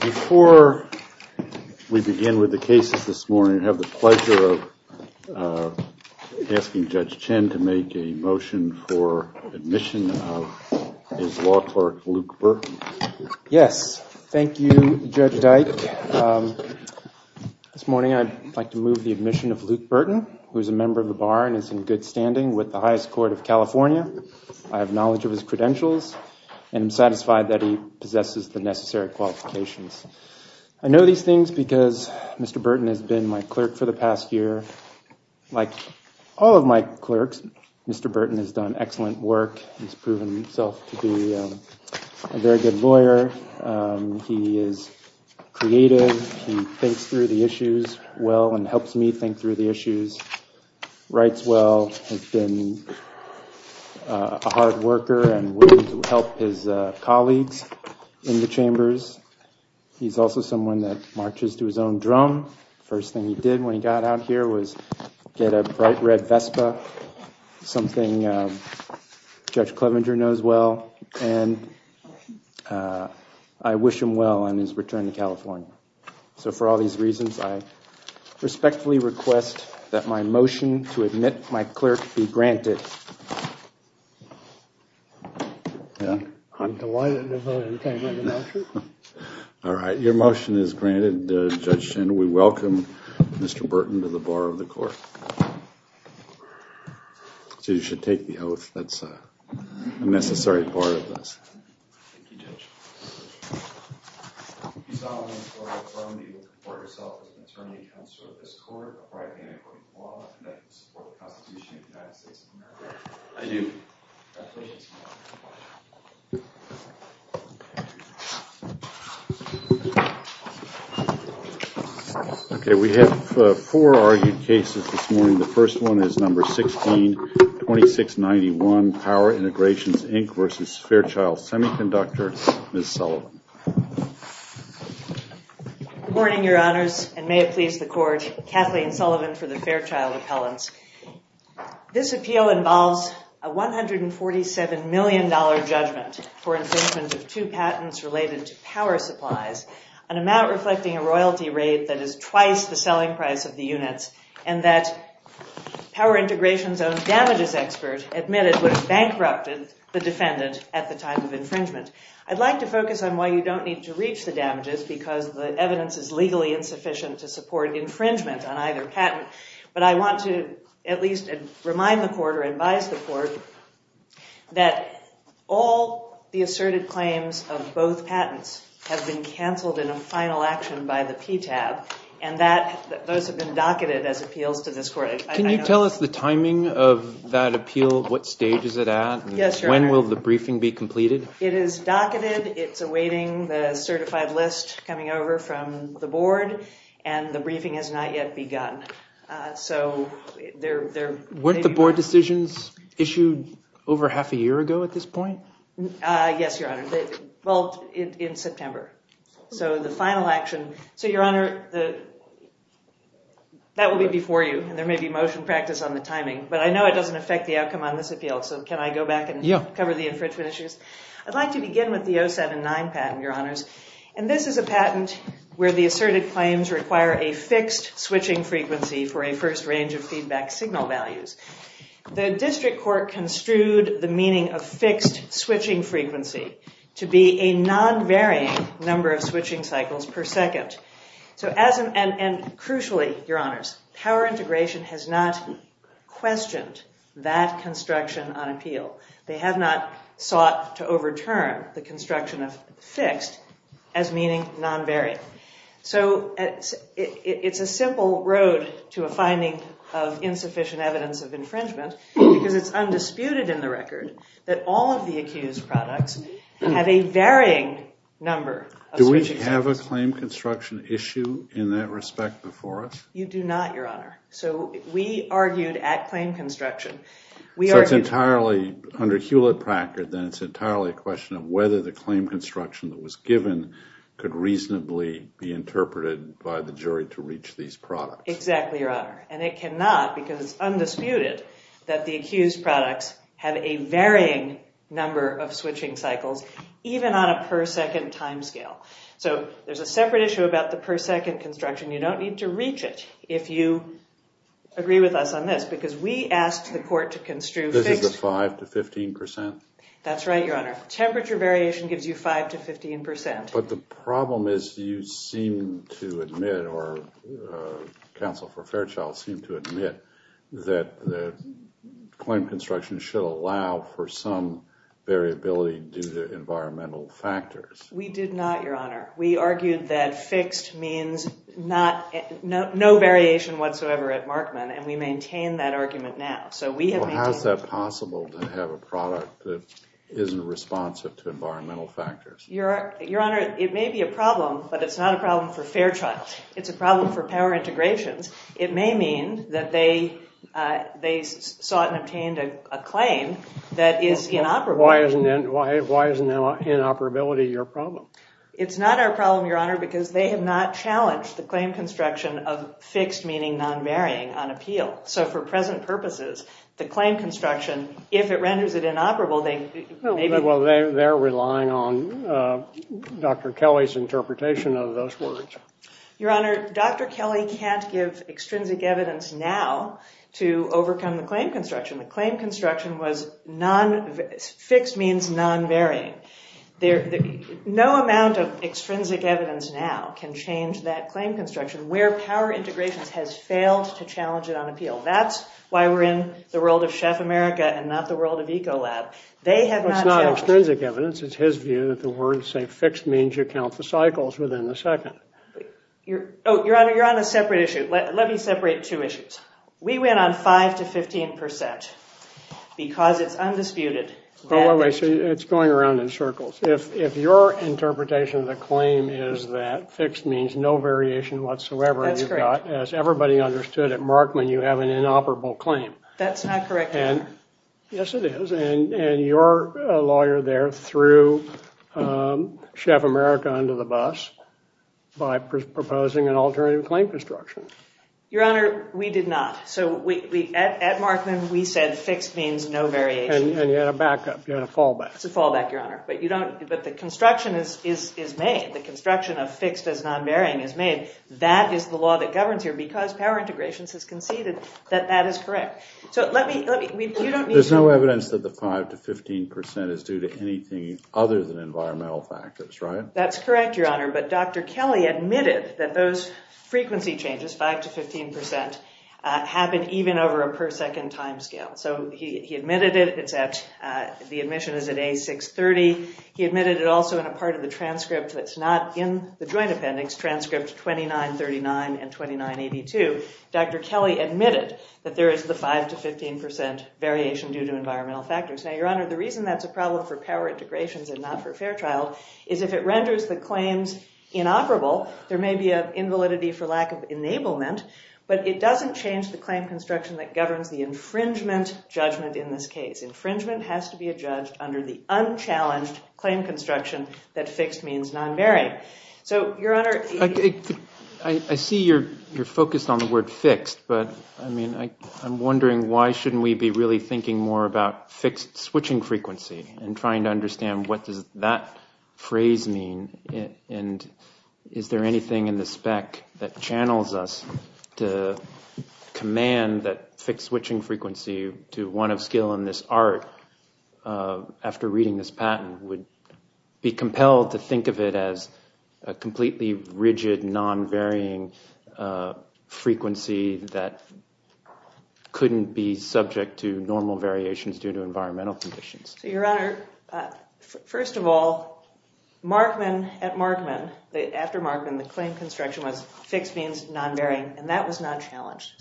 Before we begin with the cases this morning, I have the pleasure of asking Judge Chen to make a motion for admission of his law clerk, Luke Burton. Yes. Thank you, Judge Dyke. This morning I'd like to move the admission of Luke Burton, who is a member of the bar and is in good standing with the highest court of California. I have knowledge of his credentials and am satisfied that he possesses the necessary qualifications. I know these things because Mr. Burton has been my clerk for the past year. Like all of my clerks, Mr. Burton has done excellent work. He's proven himself to be a very good lawyer. He is creative. He thinks through the issues well and helps me think through the issues, writes well, has been a hard worker and willing to help his colleagues in the chambers. He's also someone that marches to his own drum. The first thing he did when he got out here was get a bright red Vespa, something Judge Clevenger knows well. And I wish him well on his return to California. So for all these reasons, I respectfully request that my motion to admit my clerk be granted. I'm delighted to vote in favor of the motion. All right, your motion is granted, Judge Chandler. We welcome Mr. Burton to the bar of the court. So you should take the oath. That's a necessary part of this. Thank you, Judge. Do you solemnly swear or affirm that you will conform yourself to the terms and conditions of this court, by the power vested in me by the court of law, and with the support of the Constitution of the United States of America? I do. Congratulations. Thank you. Okay, we have four argued cases this morning. The first one is number 162691, Power Integrations, Inc. v. Fairchild Semiconductor, Ms. Sullivan. Good morning, your honors, and may it please the court, Kathleen Sullivan for the Fairchild appellants. This appeal involves a $147 million judgment for infringement of two patents related to power supplies, an amount reflecting a royalty rate that is twice the selling price of the units, and that Power Integrations' own damages expert admitted would have bankrupted the defendant at the time of infringement. I'd like to focus on why you don't need to reach the damages, because the evidence is legally insufficient to support infringement on either patent. But I want to at least remind the court or advise the court that all the asserted claims of both patents have been canceled in a final action by the PTAB, and that those have been docketed as appeals to this court. Can you tell us the timing of that appeal? What stage is it at? Yes, your honor. When will the briefing be completed? It is docketed. It's awaiting the certified list coming over from the board, and the briefing has not yet begun. Weren't the board decisions issued over half a year ago at this point? Yes, your honor. Well, in September. So the final action. So, your honor, that will be before you, and there may be motion practice on the timing, but I know it doesn't affect the outcome on this appeal, so can I go back and cover the infringement issues? I'd like to begin with the 079 patent, your honors, and this is a patent where the asserted claims require a fixed switching frequency for a first range of feedback signal values. The district court construed the meaning of fixed switching frequency to be a non-varying number of switching cycles per second. And crucially, your honors, power integration has not questioned that construction on appeal. They have not sought to overturn the construction of fixed as meaning non-varying. So it's a simple road to a finding of insufficient evidence of infringement, because it's undisputed in the record that all of the accused products have a varying number of switching cycles. Do we have a claim construction issue in that respect before us? You do not, your honor. So we argued at claim construction. So it's entirely under Hewlett-Packard, then it's entirely a question of whether the claim construction that was given could reasonably be interpreted by the jury to reach these products. Exactly, your honor. And it cannot, because it's undisputed that the accused products have a varying number of switching cycles, even on a per second time scale. So there's a separate issue about the per second construction. You don't need to reach it if you agree with us on this, because we asked the court to construe... This is the 5 to 15 percent? That's right, your honor. Temperature variation gives you 5 to 15 percent. But the problem is you seem to admit, or counsel for Fairchild seemed to admit, that the claim construction should allow for some variability due to environmental factors. We did not, your honor. We argued that fixed means no variation whatsoever at Markman, and we maintain that argument now. So how is that possible to have a product that isn't responsive to environmental factors? Your honor, it may be a problem, but it's not a problem for Fairchild. It's a problem for Power Integrations. It may mean that they sought and obtained a claim that is inoperable. Why isn't inoperability your problem? It's not our problem, your honor, because they have not challenged the claim construction of fixed, meaning non-varying, on appeal. So for present purposes, the claim construction, if it renders it inoperable... Well, they're relying on Dr. Kelly's interpretation of those words. Your honor, Dr. Kelly can't give extrinsic evidence now to overcome the claim construction. The claim construction was fixed means non-varying. No amount of extrinsic evidence now can change that claim construction where Power Integrations has failed to challenge it on appeal. That's why we're in the world of Chef America and not the world of Ecolab. It's not extrinsic evidence. It's his view that the words say fixed means you count the cycles within the second. Your honor, you're on a separate issue. Let me separate two issues. We went on 5% to 15% because it's undisputed that... Wait, wait, wait. It's going around in circles. If your interpretation of the claim is that fixed means no variation whatsoever... That's correct. As everybody understood at Markman, you have an inoperable claim. That's not correct, your honor. Yes, it is. And your lawyer there threw Chef America under the bus by proposing an alternative claim construction. Your honor, we did not. At Markman, we said fixed means no variation. And you had a backup. You had a fallback. It's a fallback, your honor. But the construction is made. The construction of fixed as non-varying is made. That is the law that governs here because Power Integrations has conceded that that is correct. There's no evidence that the 5% to 15% is due to anything other than environmental factors, right? That's correct, your honor. But Dr. Kelly admitted that those frequency changes, 5% to 15%, happen even over a per second timescale. So he admitted it. The admission is at A630. He admitted it also in a part of the transcript that's not in the Joint Appendix, transcript 2939 and 2982. Dr. Kelly admitted that there is the 5% to 15% variation due to environmental factors. Now, your honor, the reason that's a problem for Power Integrations and not for Fairchild is if it renders the claims inoperable, there may be an invalidity for lack of enablement, but it doesn't change the claim construction that governs the infringement judgment in this case. Infringement has to be adjudged under the unchallenged claim construction that fixed means non-varying. I see you're focused on the word fixed, but I mean, I'm wondering why shouldn't we be really thinking more about fixed switching frequency and trying to understand what does that phrase mean and is there anything in the spec that channels us to command that fixed switching frequency to one of skill in this art after reading this patent would be compelled to think of it as a completely rigid non-varying frequency that couldn't be subject to normal variations due to environmental conditions. So your honor, first of all, Markman at Markman, after Markman, the claim construction was fixed means non-varying and that was not challenged.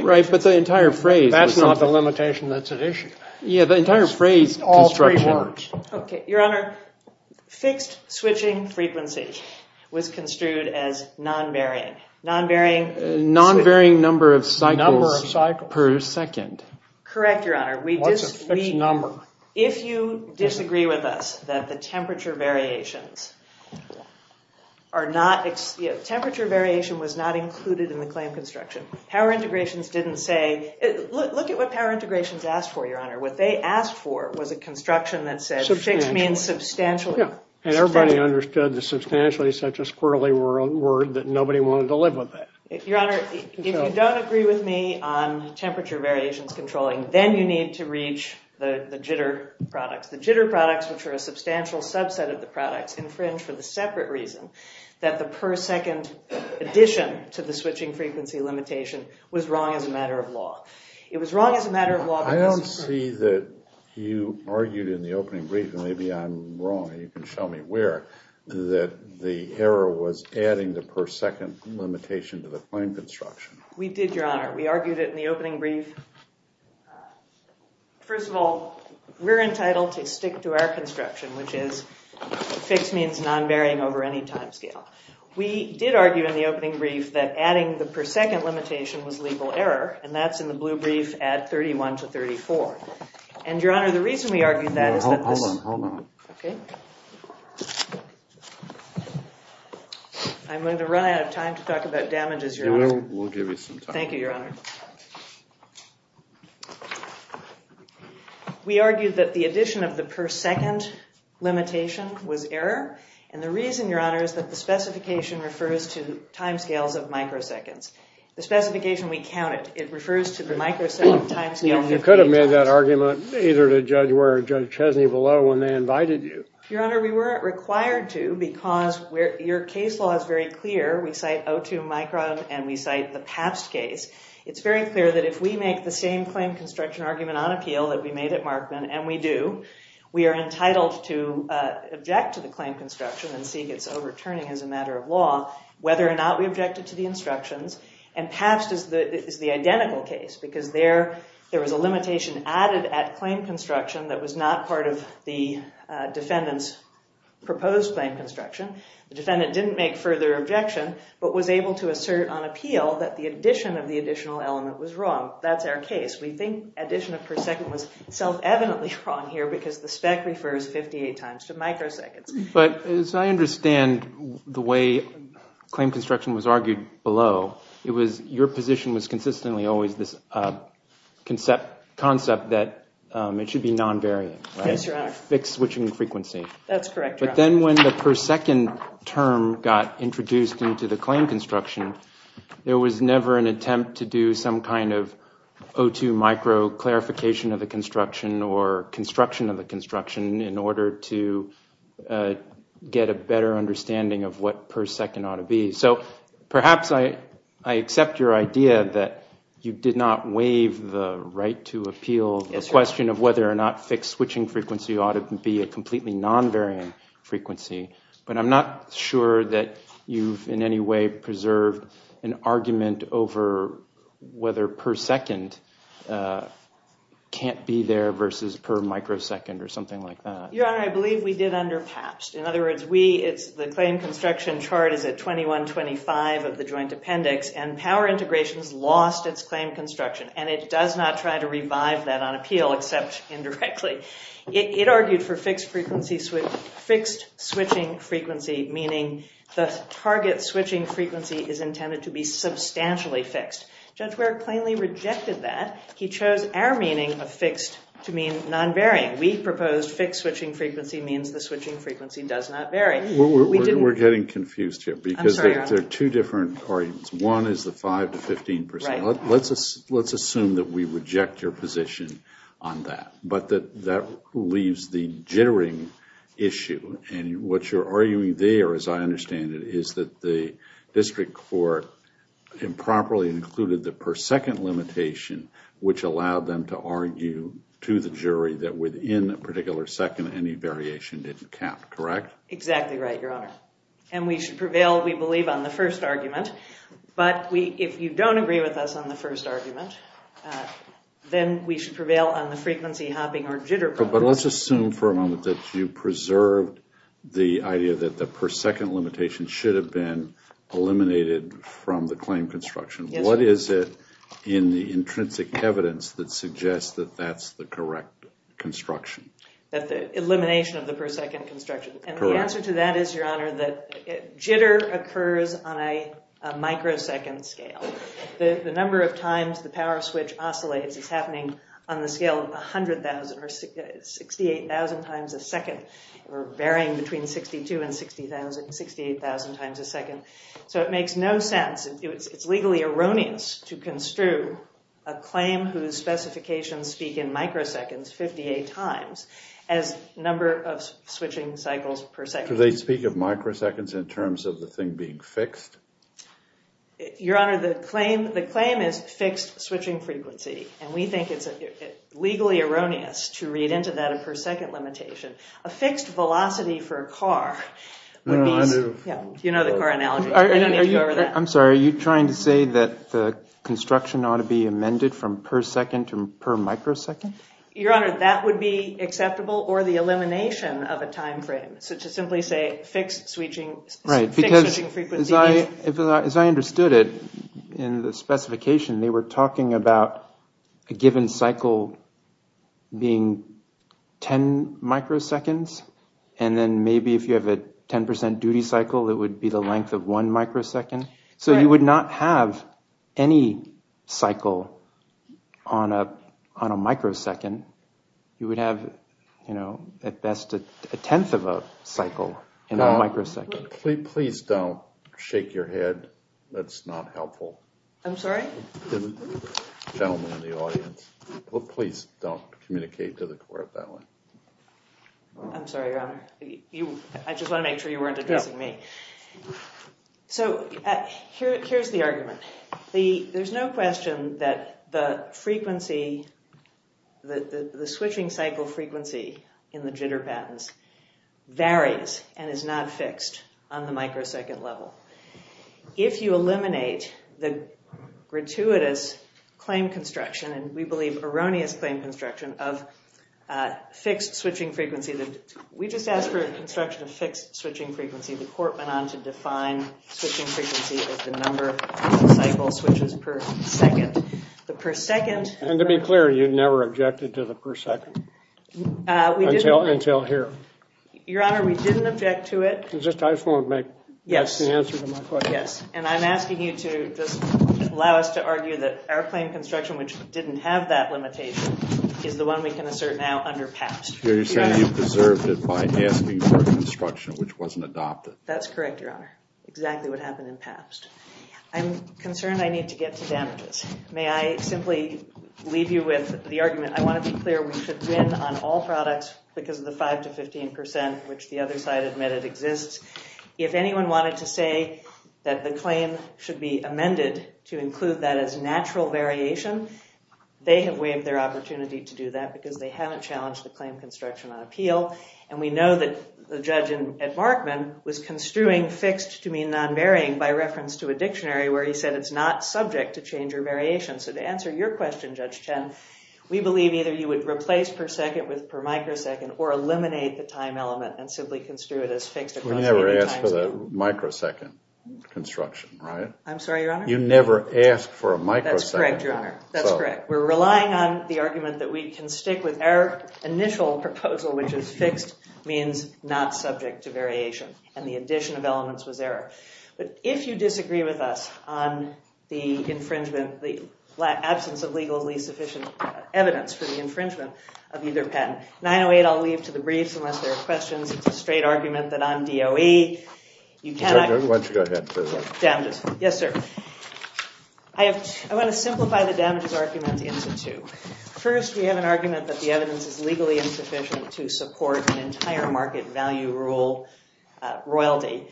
Right, but the entire phrase... That's not the limitation that's at issue. Yeah, the entire phrase construction... Okay, your honor, fixed switching frequency was construed as non-varying. Non-varying... Non-varying number of cycles per second. Correct, your honor. What's a fixed number? If you disagree with us that the temperature variations are not... temperature variation was not included in the claim construction. Power integrations didn't say... look at what power integrations asked for, your honor. What they asked for was a construction that said fixed means substantially. And everybody understood that substantially is such a squirrely word that nobody wanted to live with that. Your honor, if you don't agree with me on temperature variations controlling, then you need to reach the jitter products. The jitter products, which are a substantial subset of the products, infringe for the separate reason that the per second addition to the switching frequency limitation was wrong as a matter of law. It was wrong as a matter of law... I don't see that you argued in the opening brief, and maybe I'm wrong and you can show me where, that the error was adding the per second limitation to the claim construction. We did, your honor. We argued it in the opening brief. First of all, we're entitled to stick to our construction, which is fixed means non-varying over any time scale. We did argue in the opening brief that adding the per second limitation was legal error, and that's in the blue brief at 31 to 34. And, your honor, the reason we argued that is that... Hold on, hold on. Okay. I'm going to run out of time to talk about damages, your honor. We'll give you some time. Thank you, your honor. We argued that the addition of the per second limitation was error, and the reason, your honor, is that the specification refers to time scales of microseconds. The specification we counted, it refers to the microsecond time scale... You could have made that argument either to Judge Ware or Judge Chesney below when they invited you. Your honor, we weren't required to because your case law is very clear. We cite 02 micron, and we cite the Pabst case. It's very clear that if we make the same claim construction argument on appeal that we made at Markman, and we do, we are entitled to object to the claim construction and seek its overturning as a matter of law, whether or not we objected to the instructions. And Pabst is the identical case because there was a limitation added at claim construction that was not part of the defendant's proposed claim construction. The defendant didn't make further objection but was able to assert on appeal that the addition of the additional element was wrong. That's our case. We think addition of per second was self-evidently wrong here because the spec refers 58 times to microseconds. But as I understand the way claim construction was argued below, it was your position was consistently always this concept that it should be non-variant. Yes, your honor. Fixed switching frequency. That's correct, your honor. But then when the per second term got introduced into the claim construction, there was never an attempt to do some kind of 02 micro clarification of the construction or construction of the construction in order to get a better understanding of what per second ought to be. So perhaps I accept your idea that you did not waive the right to appeal the question of whether or not fixed switching frequency ought to be a completely non-variant frequency. But I'm not sure that you've in any way preserved an argument over whether per second can't be there versus per microsecond or something like that. Your honor, I believe we did under Pabst. In other words, the claim construction chart is at 2125 of the joint appendix. And power integrations lost its claim construction. And it does not try to revive that on appeal except indirectly. It argued for fixed switching frequency, meaning the target switching frequency is intended to be substantially fixed. Judge Ware plainly rejected that. He chose our meaning of fixed to mean non-varying. We proposed fixed switching frequency means the switching frequency does not vary. We're getting confused here because there are two different arguments. One is the 5 to 15%. Let's assume that we reject your position on that. But that leaves the jittering issue. And what you're arguing there, as I understand it, is that the district court improperly included the per second limitation, which allowed them to argue to the jury that within a particular second, any variation didn't count, correct? Exactly right, your honor. And we should prevail, we believe, on the first argument. But if you don't agree with us on the first argument, then we should prevail on the frequency hopping or jitter problem. But let's assume for a moment that you preserved the idea that the per second limitation should have been eliminated from the claim construction. What is it in the intrinsic evidence that suggests that that's the correct construction? That the elimination of the per second construction. And the answer to that is, your honor, that jitter occurs on a microsecond scale. The number of times the power switch oscillates is happening on the scale of 100,000 or 68,000 times a second, or varying between 62,000 and 68,000 times a second. So it makes no sense. It's legally erroneous to construe a claim whose specifications speak in microseconds 58 times as number of switching cycles per second. Do they speak of microseconds in terms of the thing being fixed? Your honor, the claim is fixed switching frequency. And we think it's legally erroneous to read into that a per second limitation. A fixed velocity for a car would be... No, I move. You know the car analogy. I don't need to go over that. I'm sorry, are you trying to say that the construction ought to be amended from per second to per microsecond? Your honor, that would be acceptable, or the elimination of a time frame. So to simply say fixed switching frequency... Right, because as I understood it in the specification, they were talking about a given cycle being 10 microseconds. And then maybe if you have a 10% duty cycle, it would be the length of one microsecond. So you would not have any cycle on a microsecond. You would have at best a tenth of a cycle in a microsecond. Please don't shake your head. That's not helpful. I'm sorry? Gentlemen in the audience, please don't communicate to the court that way. I'm sorry, your honor. I just want to make sure you weren't addressing me. So here's the argument. There's no question that the switching cycle frequency in the jitter patents varies and is not fixed on the microsecond level. If you eliminate the gratuitous claim construction, and we believe erroneous claim construction, of fixed switching frequency... We just asked for construction of fixed switching frequency. The court went on to define switching frequency as the number of cycle switches per second. The per second... And to be clear, you never objected to the per second? Until here. Your honor, we didn't object to it. I just want to make the best answer to my question. Yes, and I'm asking you to just allow us to argue that our claim construction, which didn't have that limitation, is the one we can assert now under PAPS. You're saying you preserved it by asking for construction, which wasn't adopted. That's correct, your honor. Exactly what happened in PAPS. I'm concerned I need to get to damages. May I simply leave you with the argument? I want to be clear, we should win on all products because of the 5 to 15 percent, which the other side admitted exists. If anyone wanted to say that the claim should be amended to include that as natural variation, they have waived their opportunity to do that because they haven't challenged the claim construction on appeal. And we know that the judge at Markman was construing fixed to mean non-varying by reference to a dictionary where he said it's not subject to change or variation. So to answer your question, Judge Chen, we believe either you would replace per second with per microsecond or eliminate the time element and simply construe it as fixed. You never asked for the microsecond construction, right? I'm sorry, your honor? You never asked for a microsecond. That's correct, your honor. That's correct. We're relying on the argument that we can stick with our initial proposal, which is fixed means not subject to variation. And the addition of elements was error. But if you disagree with us on the infringement, the absence of legally sufficient evidence for the infringement of either patent, 908, I'll leave to the briefs unless there are questions. It's a straight argument that I'm DOE. Why don't you go ahead. Yes, sir. I want to simplify the damages argument into two. First, we have an argument that the evidence is legally insufficient to support an entire market value rule royalty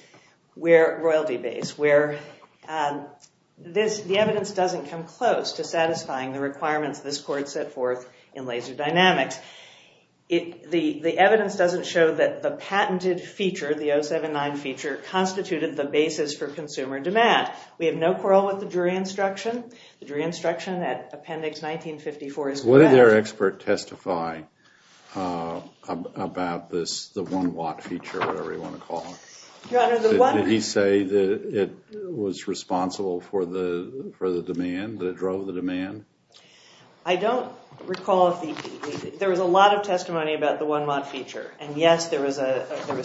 base where the evidence doesn't come close to satisfying the requirements this court set forth in Laser Dynamics. The evidence doesn't show that the patented feature, the 079 feature, constituted the basis for consumer demand. We have no quarrel with the jury instruction. The jury instruction at appendix 1954 is correct. What did their expert testify about this, the one watt feature, whatever you want to call it? Your honor, the one watt feature. Did he say that it was responsible for the demand, that it drove the demand? I don't recall if the, there was a lot of testimony about the one watt feature. And yes, there was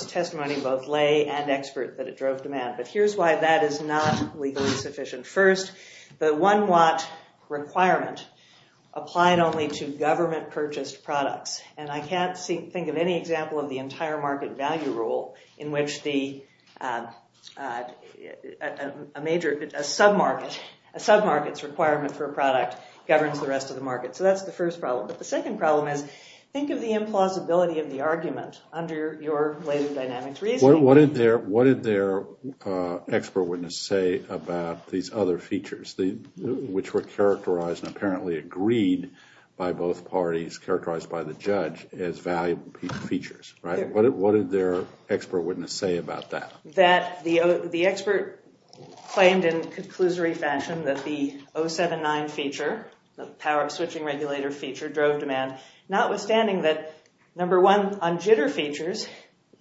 testimony both lay and expert that it drove demand. But here's why that is not legally sufficient. First, the one watt requirement applied only to government purchased products. And I can't think of any example of the entire market value rule in which a major, a submarket's requirement for a product governs the rest of the market. So that's the first problem. But the second problem is think of the implausibility of the argument under your Laser Dynamics reasoning. What did their expert witness say about these other features, which were characterized and apparently agreed by both parties, characterized by the judge, as valuable features? What did their expert witness say about that? That the expert claimed in conclusory fashion that the 079 feature, the power switching regulator feature, drove demand. Notwithstanding that, number one, on jitter features,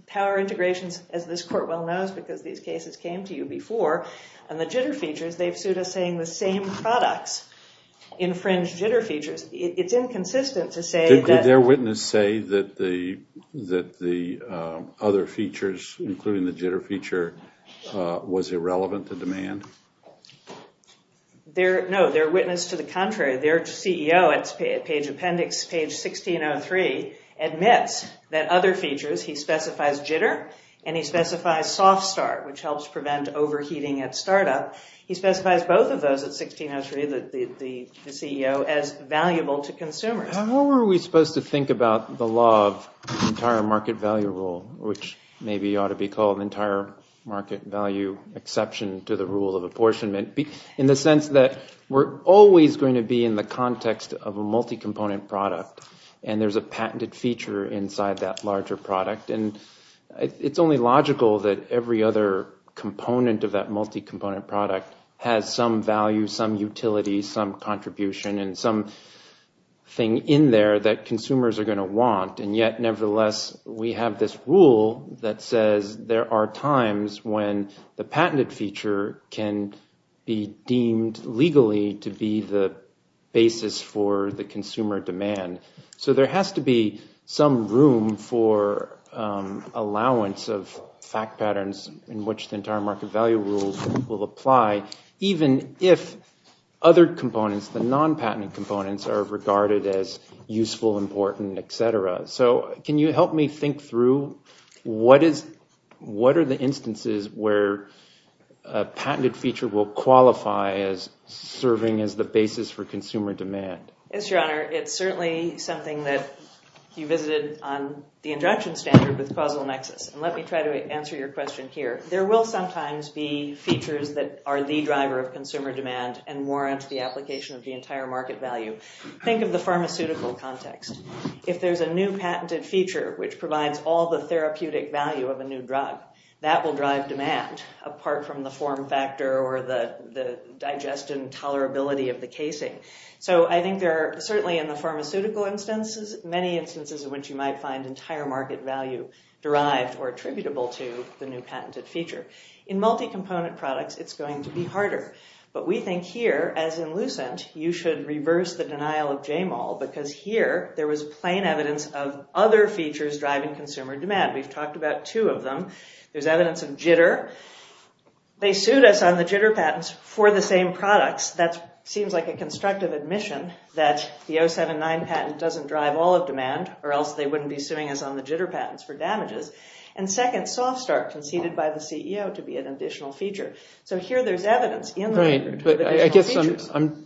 power integrations, as this court well knows because these cases came to you before, and the jitter features, they've sued us saying the same products infringe jitter features. It's inconsistent to say that- Did their witness say that the other features, including the jitter feature, was irrelevant to demand? No, their witness to the contrary. Their CEO at Page Appendix, page 1603, admits that other features, he specifies jitter and he specifies soft start, which helps prevent overheating at startup. He specifies both of those at 1603, the CEO, as valuable to consumers. What were we supposed to think about the law of entire market value rule, which maybe ought to be called entire market value exception to the rule of apportionment? In the sense that we're always going to be in the context of a multi-component product, and there's a patented feature inside that larger product. It's only logical that every other component of that multi-component product has some value, some utility, some contribution, and some thing in there that consumers are going to want. And yet, nevertheless, we have this rule that says there are times when the patented feature can be deemed legally to be the basis for the consumer demand. So there has to be some room for allowance of fact patterns in which the entire market value rule will apply, even if other components, the non-patented components, are regarded as useful, important, etc. So can you help me think through what are the instances where a patented feature will qualify as serving as the basis for consumer demand? Yes, Your Honor. It's certainly something that you visited on the injunction standard with causal nexus. And let me try to answer your question here. There will sometimes be features that are the driver of consumer demand and warrant the application of the entire market value. Think of the pharmaceutical context. If there's a new patented feature which provides all the therapeutic value of a new drug, that will drive demand, apart from the form factor or the digest and tolerability of the casing. So I think there are certainly in the pharmaceutical instances, many instances in which you might find entire market value derived or attributable to the new patented feature. In multi-component products, it's going to be harder. But we think here, as in Lucent, you should reverse the denial of JMOL because here there was plain evidence of other features driving consumer demand. We've talked about two of them. There's evidence of jitter. They sued us on the jitter patents for the same products. That seems like a constructive admission that the 079 patent doesn't drive all of demand or else they wouldn't be suing us on the jitter patents for damages. And second, SoftStart conceded by the CEO to be an additional feature. So here there's evidence in the record of additional features. Right, but I guess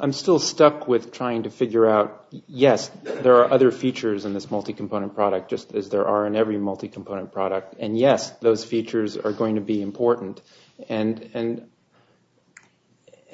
I'm still stuck with trying to figure out, yes, there are other features in this multi-component product, just as there are in every multi-component product. And yes, those features are going to be important. And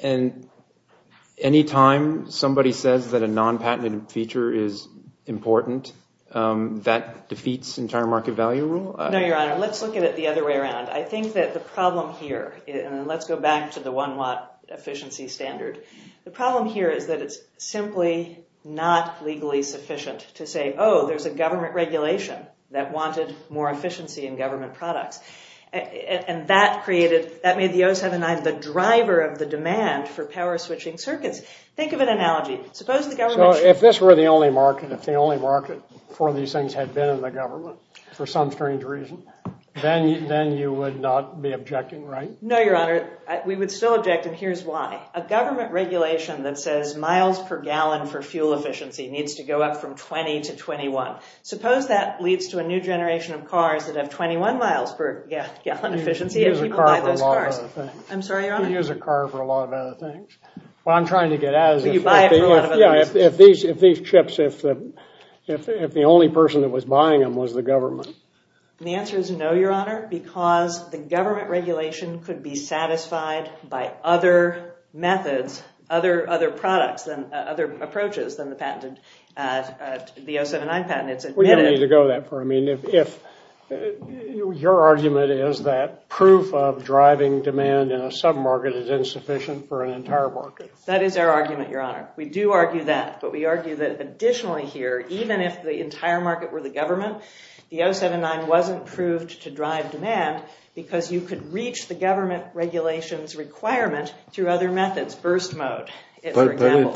any time somebody says that a non-patented feature is important, that defeats entire market value rule? No, Your Honor, let's look at it the other way around. I think that the problem here, and let's go back to the one watt efficiency standard. The problem here is that it's simply not legally sufficient to say, oh, there's a government regulation that wanted more efficiency in government products. And that made the 079 the driver of the demand for power switching circuits. Think of an analogy. So if this were the only market, if the only market for these things had been in the government for some strange reason, then you would not be objecting, right? No, Your Honor. We would still object, and here's why. A government regulation that says miles per gallon for fuel efficiency needs to go up from 20 to 21. Suppose that leads to a new generation of cars that have 21 miles per gallon efficiency if people buy those cars. You use a car for a lot of other things. I'm sorry, Your Honor? You use a car for a lot of other things. What I'm trying to get at is if these chips, if the only person that was buying them was the government. The answer is no, Your Honor, because the government regulation could be satisfied by other methods, other products, other approaches than the 079 patent. We don't need to go that far. Your argument is that proof of driving demand in a submarket is insufficient for an entire market. We do argue that, but we argue that additionally here, even if the entire market were the government, the 079 wasn't proved to drive demand because you could reach the government regulations requirement through other methods, burst mode, for example.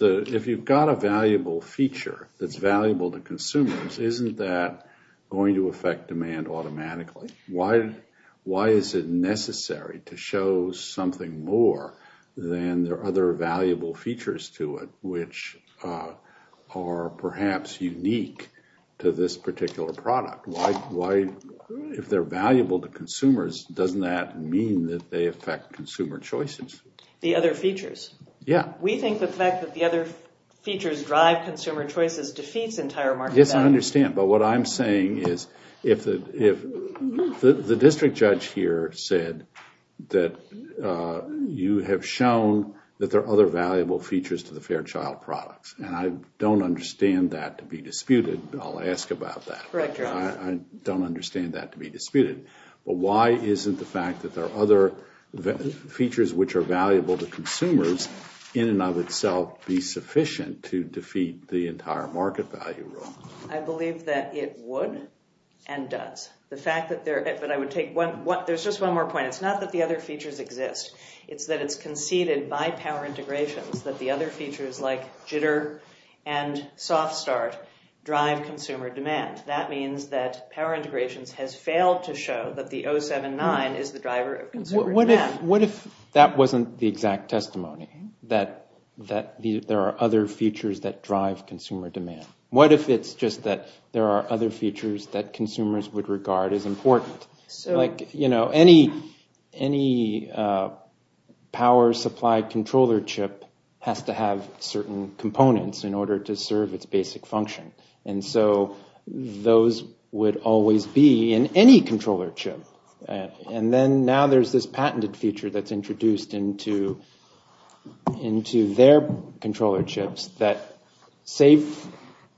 If you've got a valuable feature that's valuable to consumers, isn't that going to affect demand automatically? Why is it necessary to show something more than there are other valuable features to it which are perhaps unique to this particular product? If they're valuable to consumers, doesn't that mean that they affect consumer choices? The other features? Yeah. We think the fact that the other features drive consumer choices defeats entire market value. Yes, I understand, but what I'm saying is if the district judge here said that you have shown that there are other valuable features to the Fairchild products, and I don't understand that to be disputed. I'll ask about that. Correct, Your Honor. I don't understand that to be disputed, but why isn't the fact that there are other features which are valuable to consumers in and of itself be sufficient to defeat the entire market value rule? I believe that it would and does. There's just one more point. It's not that the other features exist. It's that it's conceded by power integrations that the other features like jitter and soft start drive consumer demand. That means that power integrations has failed to show that the 079 is the driver of consumer demand. What if that wasn't the exact testimony, that there are other features that drive consumer demand? What if it's just that there are other features that consumers would regard as important? Any power supply controller chip has to have certain components in order to serve its basic function, and so those would always be in any controller chip. Now there's this patented feature that's introduced into their controller chips that, save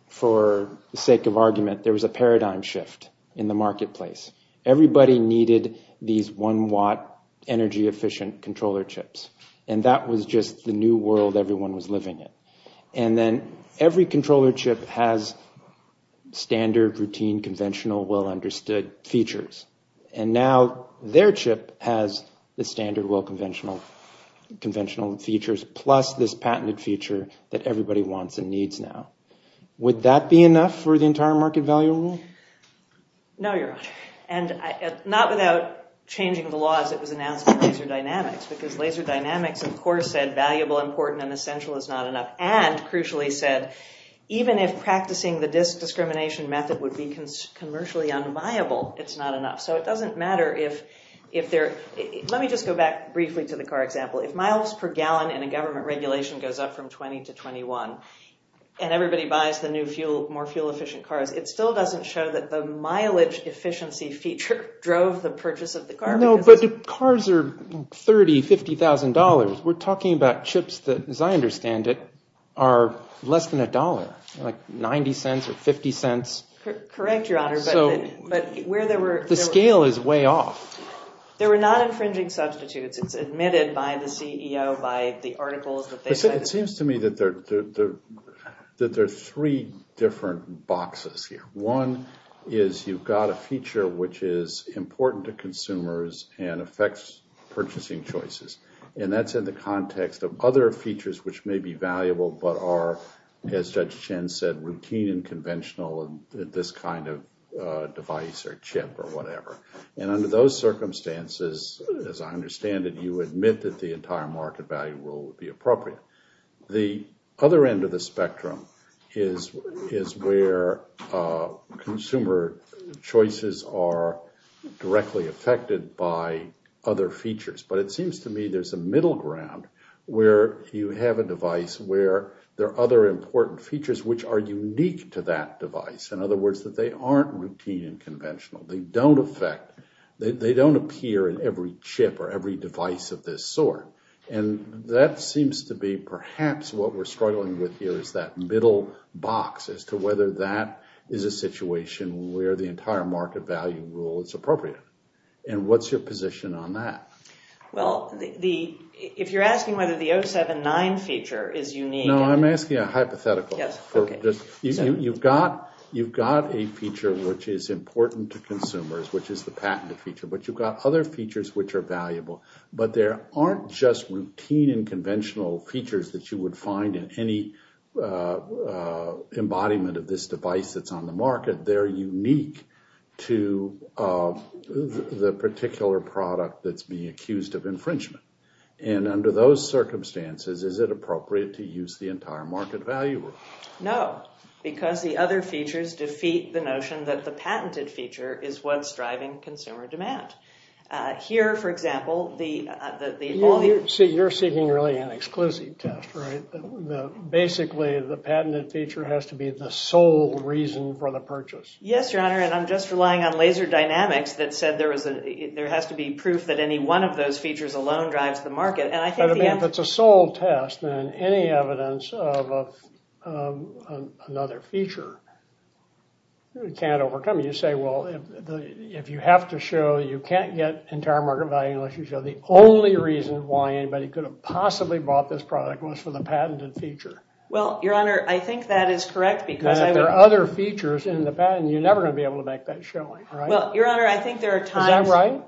for the sake of argument, there was a paradigm shift in the marketplace. Everybody needed these one-watt energy-efficient controller chips, and that was just the new world everyone was living in. Then every controller chip has standard, routine, conventional, well-understood features. Now their chip has the standard, well-conventional features, plus this patented feature that everybody wants and needs now. Would that be enough for the entire market value rule? No, Your Honor. Not without changing the laws that was announced in Laser Dynamics, because Laser Dynamics, of course, said valuable, important, and essential is not enough. And, crucially said, even if practicing the disk discrimination method would be commercially unviable, it's not enough. So it doesn't matter if there—let me just go back briefly to the car example. If miles per gallon in a government regulation goes up from 20 to 21, and everybody buys the new, more fuel-efficient cars, it still doesn't show that the mileage efficiency feature drove the purchase of the car. No, but cars are $30,000, $50,000. We're talking about chips that, as I understand it, are less than $1, like $0.90 or $0.50. Correct, Your Honor, but where there were— The scale is way off. They were not infringing substitutes. It's admitted by the CEO, by the articles that they— It seems to me that there are three different boxes here. One is you've got a feature which is important to consumers and affects purchasing choices, and that's in the context of other features which may be valuable but are, as Judge Chen said, routine and conventional and this kind of device or chip or whatever. And under those circumstances, as I understand it, you admit that the entire market value rule would be appropriate. The other end of the spectrum is where consumer choices are directly affected by other features, but it seems to me there's a middle ground where you have a device where there are other important features which are unique to that device, in other words, that they aren't routine and conventional. They don't affect—they don't appear in every chip or every device of this sort, and that seems to be perhaps what we're struggling with here is that middle box as to whether that is a situation where the entire market value rule is appropriate. And what's your position on that? Well, if you're asking whether the 079 feature is unique— No, I'm asking a hypothetical. You've got a feature which is important to consumers, which is the patented feature, but you've got other features which are valuable, but there aren't just routine and conventional features that you would find in any embodiment of this device that's on the market. They're unique to the particular product that's being accused of infringement. And under those circumstances, is it appropriate to use the entire market value rule? No, because the other features defeat the notion that the patented feature is what's driving consumer demand. Here, for example, the— So you're seeking really an exquisite test, right? Basically, the patented feature has to be the sole reason for the purchase. Yes, Your Honor, and I'm just relying on laser dynamics that said there has to be proof that any one of those features alone drives the market, but if it's a sole test, then any evidence of another feature can't overcome it. You say, well, if you have to show you can't get entire market value unless you show the only reason why anybody could have possibly bought this product was for the patented feature. Well, Your Honor, I think that is correct because— If there are other features in the patent, you're never going to be able to make that showing, right? Well, Your Honor, I think there are times— Is that right?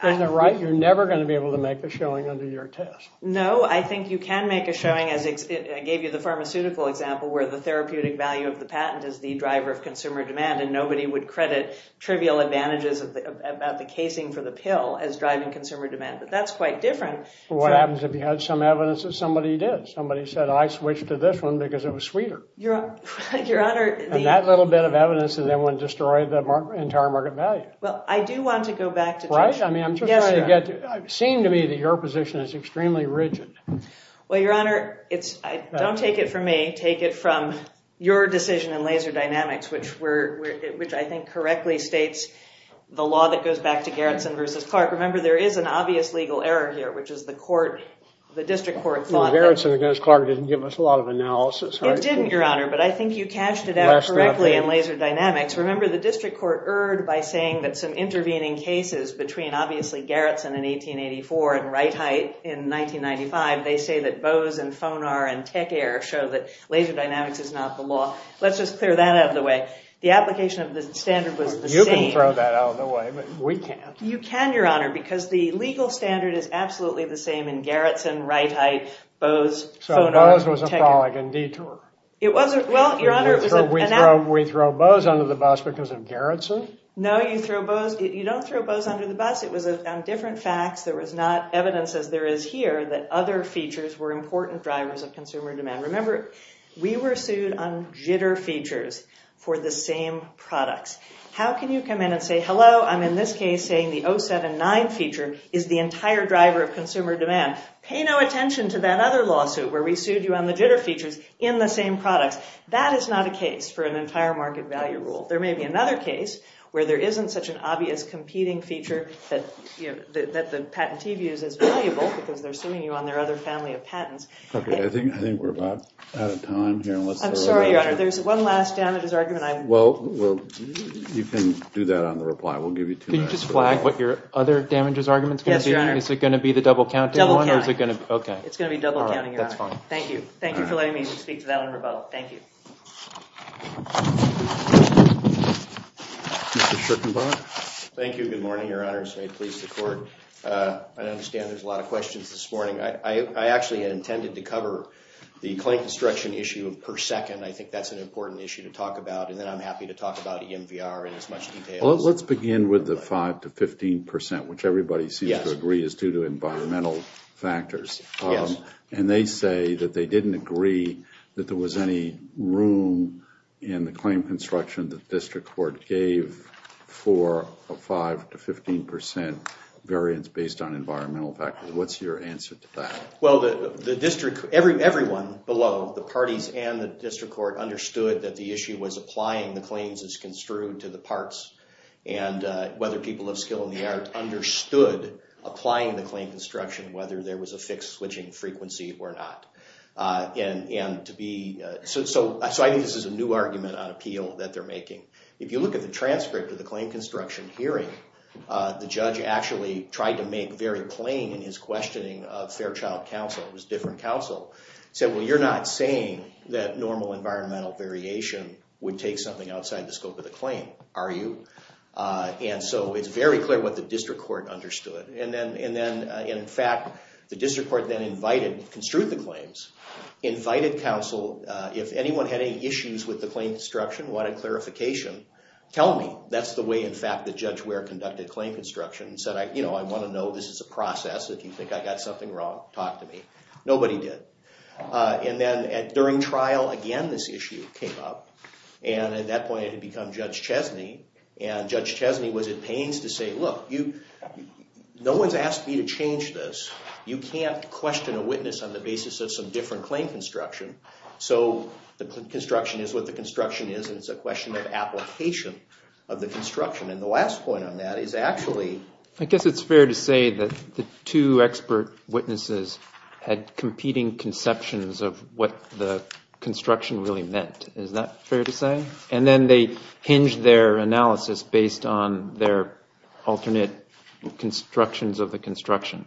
Isn't that right? You're never going to be able to make the showing under your test. No, I think you can make a showing, as I gave you the pharmaceutical example, where the therapeutic value of the patent is the driver of consumer demand, and nobody would credit trivial advantages about the casing for the pill as driving consumer demand, but that's quite different. Well, what happens if you had some evidence that somebody did? Somebody said, I switched to this one because it was sweeter. Your Honor, the— And that little bit of evidence is the one that destroyed the entire market value. Well, I do want to go back to— Right? I mean, I'm just trying to get to— It seemed to me that your position is extremely rigid. Well, Your Honor, don't take it from me. Take it from your decision in Laser Dynamics, which I think correctly states the law that goes back to Gerritsen v. Clark. Remember, there is an obvious legal error here, which is the court, the district court, thought that— Well, Gerritsen v. Clark didn't give us a lot of analysis, right? It didn't, Your Honor, but I think you cashed it out correctly in Laser Dynamics. Remember, the district court erred by saying that some intervening cases between, obviously, Gerritsen in 1884 and Wright-Hite in 1995, they say that Bose and Fonar and Tech Air show that laser dynamics is not the law. Let's just clear that out of the way. The application of the standard was the same. You can throw that out of the way, but we can't. You can, Your Honor, because the legal standard is absolutely the same in Gerritsen, Wright-Hite, Bose, Fonar, Tech Air. So Bose was a frolic and detour. It wasn't. Well, Your Honor, it was an— We throw Bose under the bus because of Gerritsen? No, you don't throw Bose under the bus. It was on different facts. There was not evidence, as there is here, that other features were important drivers of consumer demand. Remember, we were sued on jitter features for the same products. How can you come in and say, hello, I'm in this case saying the 079 feature is the entire driver of consumer demand? Pay no attention to that other lawsuit where we sued you on the jitter features in the same products. That is not a case for an entire market value rule. There may be another case where there isn't such an obvious competing feature that the patentee views as valuable because they're suing you on their other family of patents. Okay, I think we're about out of time here. I'm sorry, Your Honor, there's one last damages argument. Well, you can do that on the reply. We'll give you two minutes. Can you just flag what your other damages argument is going to be? Yes, Your Honor. Is it going to be the double-counting one? Double-counting. Okay. It's going to be double-counting, Your Honor. All right, that's fine. Thank you. Thank you for letting me speak to that on rebuttal. Thank you. Mr. Schickenbach. Thank you. Good morning, Your Honors. May it please the Court. I understand there's a lot of questions this morning. I actually intended to cover the client construction issue per second. I think that's an important issue to talk about, and then I'm happy to talk about EMVR in as much detail as I can. Well, let's begin with the 5% to 15%, which everybody seems to agree is due to environmental factors. Yes. And they say that they didn't agree that there was any room in the claim construction that the district court gave for a 5% to 15% variance based on environmental factors. What's your answer to that? Well, everyone below, the parties and the district court, understood that the issue was applying the claims as construed to the parts and whether people of skill and the art understood applying the claim construction, whether there was a fixed switching frequency or not. So I think this is a new argument on appeal that they're making. If you look at the transcript of the claim construction hearing, the judge actually tried to make very plain in his questioning of Fairchild Council, it was a different council, said, well you're not saying that normal environmental variation would take something outside the scope of the claim, are you? And so it's very clear what the district court understood. And in fact, the district court then invited, construed the claims, invited counsel, if anyone had any issues with the claim construction, wanted clarification, tell me. That's the way, in fact, that Judge Ware conducted claim construction and said, you know, I want to know this is a process. If you think I got something wrong, talk to me. Nobody did. And then during trial, again, this issue came up. And at that point it had become Judge Chesney. And Judge Chesney was at pains to say, look, no one's asked me to change this. You can't question a witness on the basis of some different claim construction. So the construction is what the construction is, and it's a question of application of the construction. And the last point on that is actually. I guess it's fair to say that the two expert witnesses had competing conceptions of what the construction really meant. Is that fair to say? And then they hinged their analysis based on their alternate constructions of the construction.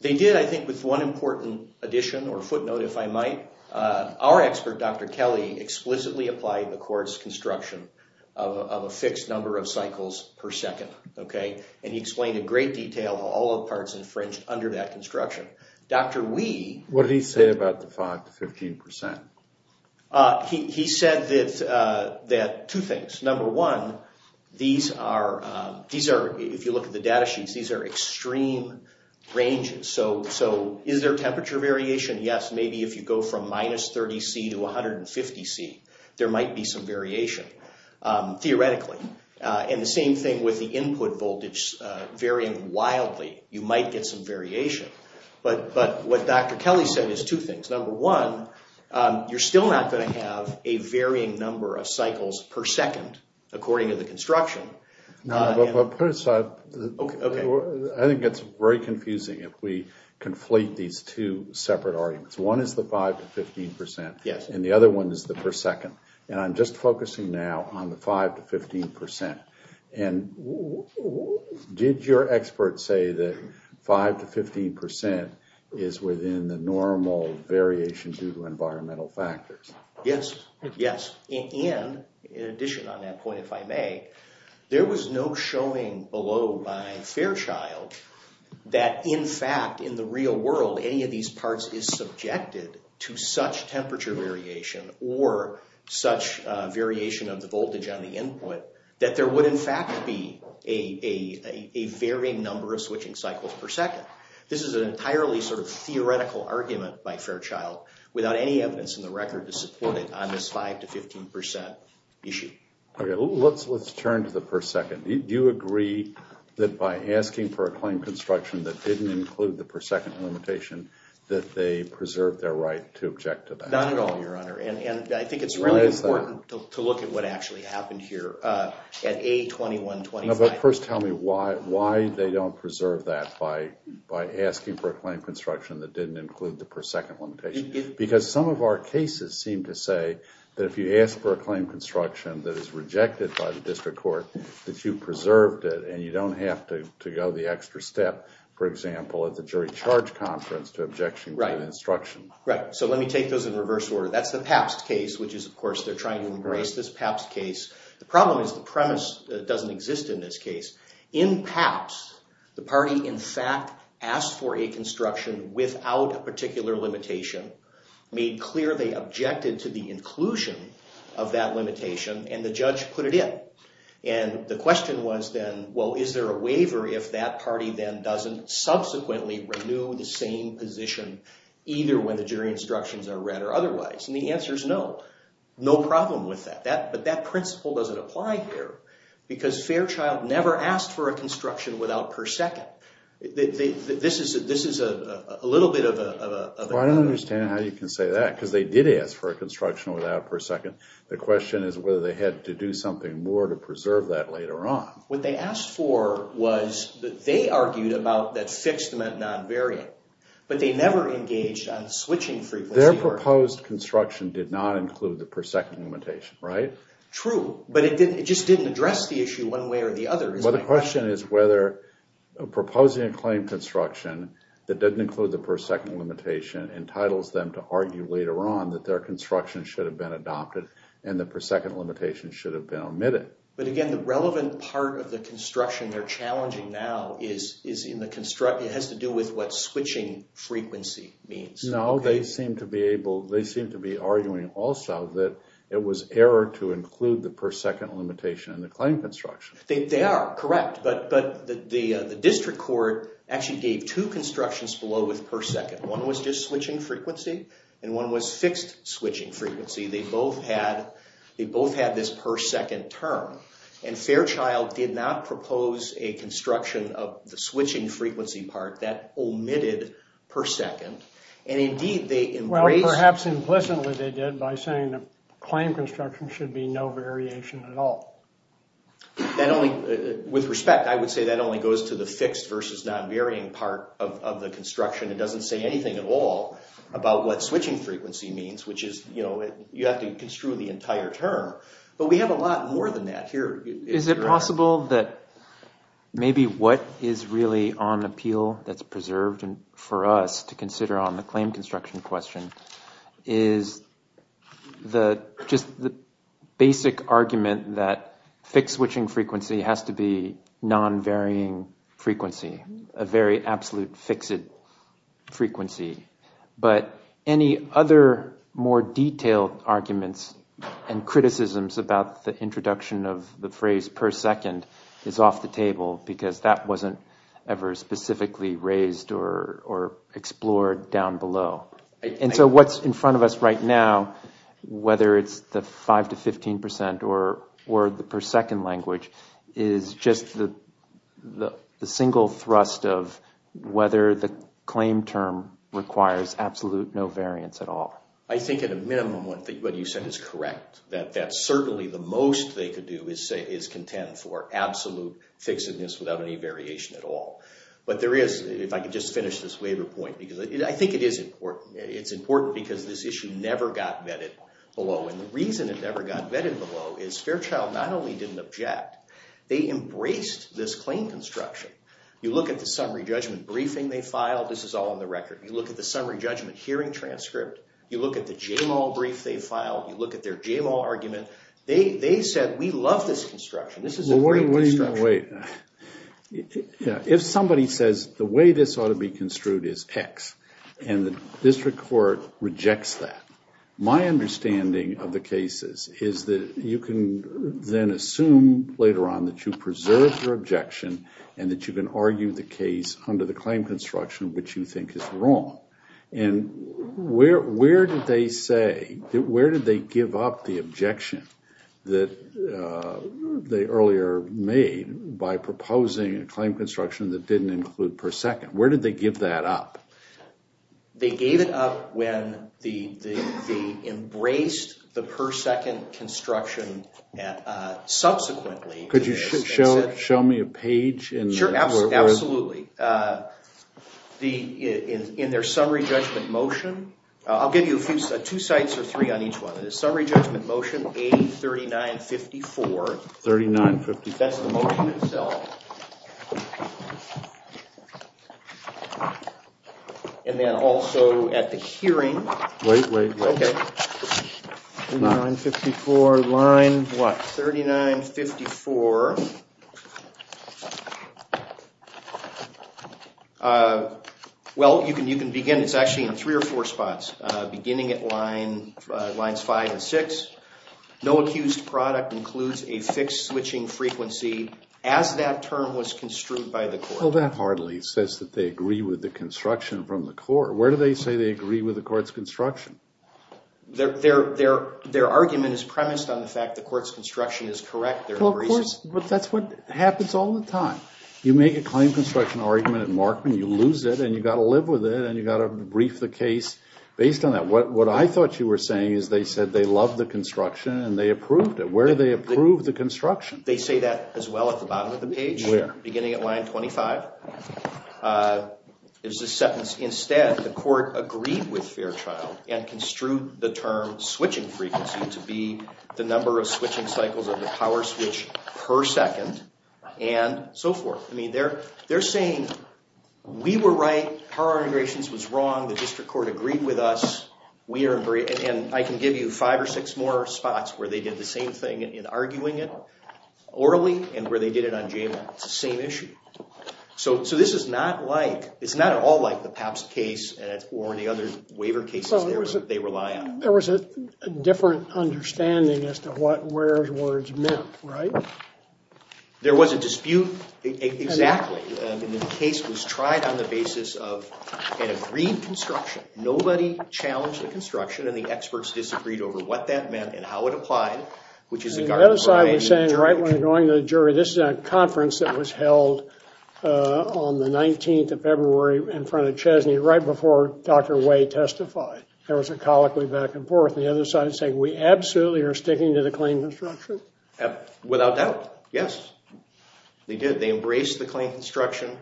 They did, I think, with one important addition or footnote, if I might. Our expert, Dr. Kelly, explicitly applied the court's construction of a fixed number of cycles per second. Okay? And he explained in great detail all the parts infringed under that construction. Dr. Wee. What did he say about the 5 to 15%? He said that two things. Number one, these are, if you look at the data sheets, these are extreme ranges. So is there temperature variation? Yes. Maybe if you go from minus 30C to 150C, there might be some variation, theoretically. And the same thing with the input voltage varying wildly. You might get some variation. But what Dr. Kelly said is two things. Number one, you're still not going to have a varying number of cycles per second, according to the construction. No, but put aside. Okay. I think it's very confusing if we conflate these two separate arguments. One is the 5 to 15%. Yes. And the other one is the per second. And I'm just focusing now on the 5 to 15%. And did your expert say that 5 to 15% is within the normal variation due to environmental factors? Yes. Yes. And in addition on that point, if I may, there was no showing below by Fairchild that, in fact, in the real world, any of these parts is subjected to such temperature variation or such variation of the voltage on the input that there would, in fact, be a varying number of switching cycles per second. This is an entirely sort of theoretical argument by Fairchild without any evidence in the record to support it on this 5 to 15% issue. Okay. Let's turn to the per second. Do you agree that by asking for a claim construction that didn't include the per second limitation that they preserved their right to object to that? Not at all, Your Honor. And I think it's really important to look at what actually happened here at A2125. No, but first tell me why they don't preserve that by asking for a claim construction that didn't include the per second limitation. Because some of our cases seem to say that if you ask for a claim construction that is rejected by the district court, that you preserved it, and you don't have to go the extra step, for example, at the jury charge conference to objection to an instruction. Right. So let me take those in reverse order. That's the Pabst case, which is, of course, they're trying to embrace this Pabst case. The problem is the premise doesn't exist in this case. In Pabst, the party, in fact, asked for a construction without a particular limitation, made clear they objected to the inclusion of that limitation, and the judge put it in. And the question was then, well, is there a waiver if that party then doesn't subsequently renew the same position either when the jury instructions are read or otherwise? And the answer is no, no problem with that. But that principle doesn't apply here, because Fairchild never asked for a construction without per second. This is a little bit of a... Well, I don't understand how you can say that, because they did ask for a construction without per second. The question is whether they had to do something more to preserve that later on. What they asked for was that they argued about that fixed meant non-variant. But they never engaged on switching frequency. Their proposed construction did not include the per second limitation, right? True, but it just didn't address the issue one way or the other. Well, the question is whether proposing a claim construction that didn't include the per second limitation entitles them to argue later on that their construction should have been adopted and the per second limitation should have been omitted. But again, the relevant part of the construction they're challenging now has to do with what switching frequency means. No, they seem to be arguing also that it was error to include the per second limitation in the claim construction. They are, correct. But the district court actually gave two constructions below with per second. One was just switching frequency, and one was fixed switching frequency. They both had this per second term. And Fairchild did not propose a construction of the switching frequency part that omitted per second. Well, perhaps implicitly they did by saying the claim construction should be no variation at all. With respect, I would say that only goes to the fixed versus non-varying part of the construction. It doesn't say anything at all about what switching frequency means, which is you have to construe the entire term. But we have a lot more than that here. Is it possible that maybe what is really on appeal that's preserved for us to consider on the claim construction question is just the basic argument that fixed switching frequency has to be non-varying frequency, a very absolute fixed frequency. But any other more detailed arguments and criticisms about the introduction of the phrase per second is off the table because that wasn't ever specifically raised or explored down below. And so what's in front of us right now, whether it's the 5 to 15 percent or the per second language, is just the single thrust of whether the claim term requires absolute no variance at all. I think at a minimum what you said is correct, that certainly the most they could do is contend for absolute fixedness without any variation at all. But there is, if I could just finish this waiver point, because I think it is important. It's important because this issue never got vetted below. And the reason it never got vetted below is Fairchild not only didn't object, they embraced this claim construction. You look at the summary judgment briefing they filed. This is all on the record. You look at the summary judgment hearing transcript. You look at the J-Law brief they filed. You look at their J-Law argument. They said, we love this construction. This is a great construction. Well, wait. If somebody says the way this ought to be construed is X and the district court rejects that, my understanding of the cases is that you can then assume later on that you preserved your objection and that you can argue the case under the claim construction which you think is wrong. And where did they say, where did they give up the objection that they earlier made by proposing a claim construction that didn't include per second? Where did they give that up? They gave it up when they embraced the per second construction subsequently. Could you show me a page? Sure, absolutely. In their summary judgment motion, I'll give you two sites or three on each one. In the summary judgment motion, A3954. 3954. That's the motion itself. And then also at the hearing. Wait, wait, wait. Okay. 3954, line what? 3954. Well, you can begin. It's actually in three or four spots, beginning at lines five and six. No accused product includes a fixed switching frequency as that term was construed by the court. Well, that hardly says that they agree with the construction from the court. Where do they say they agree with the court's construction? Their argument is premised on the fact the court's construction is correct. Of course, but that's what happens all the time. You make a claim construction argument at Markman, you lose it, and you've got to live with it, and you've got to brief the case based on that. What I thought you were saying is they said they loved the construction and they approved it. Where do they approve the construction? They say that as well at the bottom of the page, beginning at line 25. There's a sentence, instead, the court agreed with Fairchild and construed the term switching frequency to be the number of switching cycles of the power switch per second and so forth. I mean, they're saying we were right, power integrations was wrong, the district court agreed with us, and I can give you five or six more spots where they did the same thing in arguing it orally and where they did it on JMA. It's the same issue. So this is not at all like the PAPS case or any other waiver cases they rely on. There was a different understanding as to what where's words meant, right? There was a dispute, exactly. The case was tried on the basis of an agreed construction. Nobody challenged the construction, and the experts disagreed over what that meant and how it applied, which is a government-related injury. The other side was saying right when they're going to the jury, this is a conference that was held on the 19th of February in front of Chesney right before Dr. Way testified. There was a colloquy back and forth. The other side is saying we absolutely are sticking to the claim construction. Without doubt, yes, they did. They embraced the claim construction,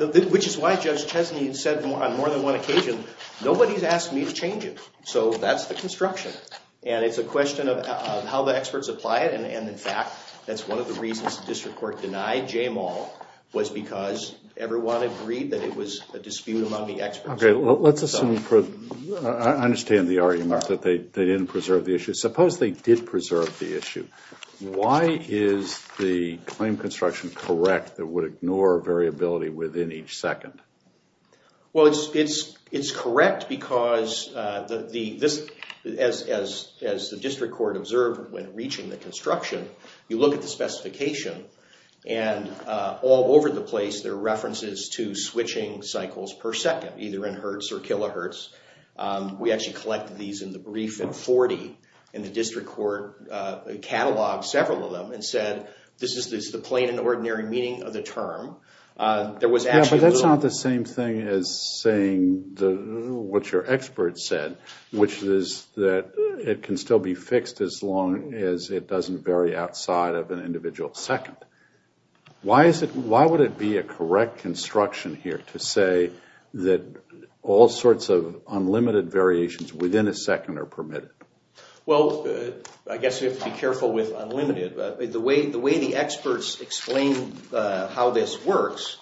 which is why Judge Chesney said on more than one occasion, nobody's asked me to change it, so that's the construction. And it's a question of how the experts apply it. And, in fact, that's one of the reasons the district court denied J-Mall, was because everyone agreed that it was a dispute among the experts. Okay, well, let's assume, I understand the argument that they didn't preserve the issue. Suppose they did preserve the issue. Why is the claim construction correct that would ignore variability within each second? Well, it's correct because as the district court observed when reaching the construction, you look at the specification and all over the place there are references to switching cycles per second, either in hertz or kilohertz. We actually collected these in the brief in 40, and the district court cataloged several of them and said this is the plain and ordinary meaning of the term. Yeah, but that's not the same thing as saying what your experts said, which is that it can still be fixed as long as it doesn't vary outside of an individual second. Why would it be a correct construction here to say that all sorts of unlimited variations within a second are permitted? Well, I guess you have to be careful with unlimited. The way the experts explain how this works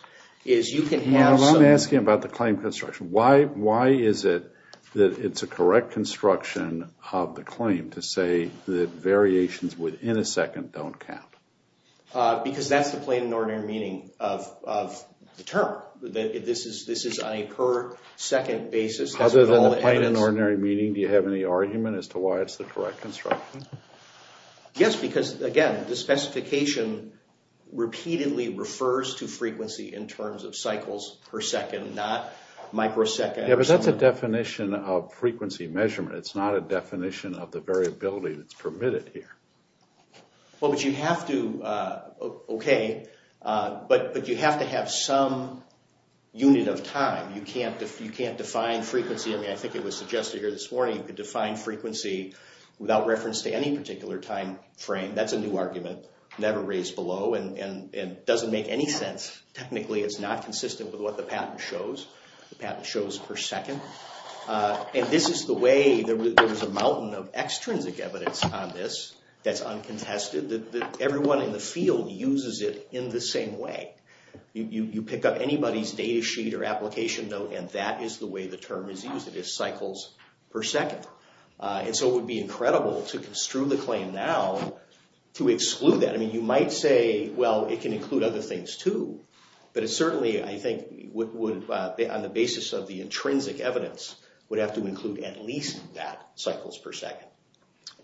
is you can have some... I'm asking about the claim construction. Why is it that it's a correct construction of the claim to say that variations within a second don't count? Because that's the plain and ordinary meaning of the term. This is on a per second basis. Other than the plain and ordinary meaning, do you have any argument as to why it's the correct construction? Yes, because again, the specification repeatedly refers to frequency in terms of cycles per second, not microseconds. Yeah, but that's a definition of frequency measurement. It's not a definition of the variability that's permitted here. Well, but you have to... Okay, but you have to have some unit of time. You can't define frequency. I mean, I think it was suggested here this morning you could define frequency without reference to any particular time frame. That's a new argument, never raised below, and doesn't make any sense. Technically, it's not consistent with what the patent shows. The patent shows per second. And this is the way... There's a mountain of extrinsic evidence on this that's uncontested. Everyone in the field uses it in the same way. You pick up anybody's data sheet or application note, and that is the way the term is used. It is cycles per second. And so it would be incredible to construe the claim now to exclude that. I mean, you might say, well, it can include other things too. But it certainly, I think, would, on the basis of the intrinsic evidence, would have to include at least that, cycles per second.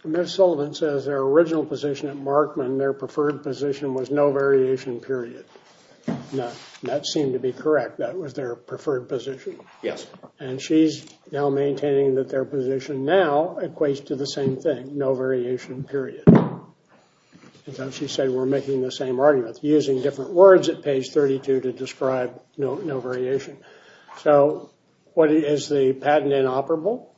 Ms. Sullivan says their original position at Markman, their preferred position, was no variation, period. That seemed to be correct. That was their preferred position. Yes. And she's now maintaining that their position now equates to the same thing, no variation, period. And so she said we're making the same argument, using different words at page 32 to describe no variation. So is the patent inoperable?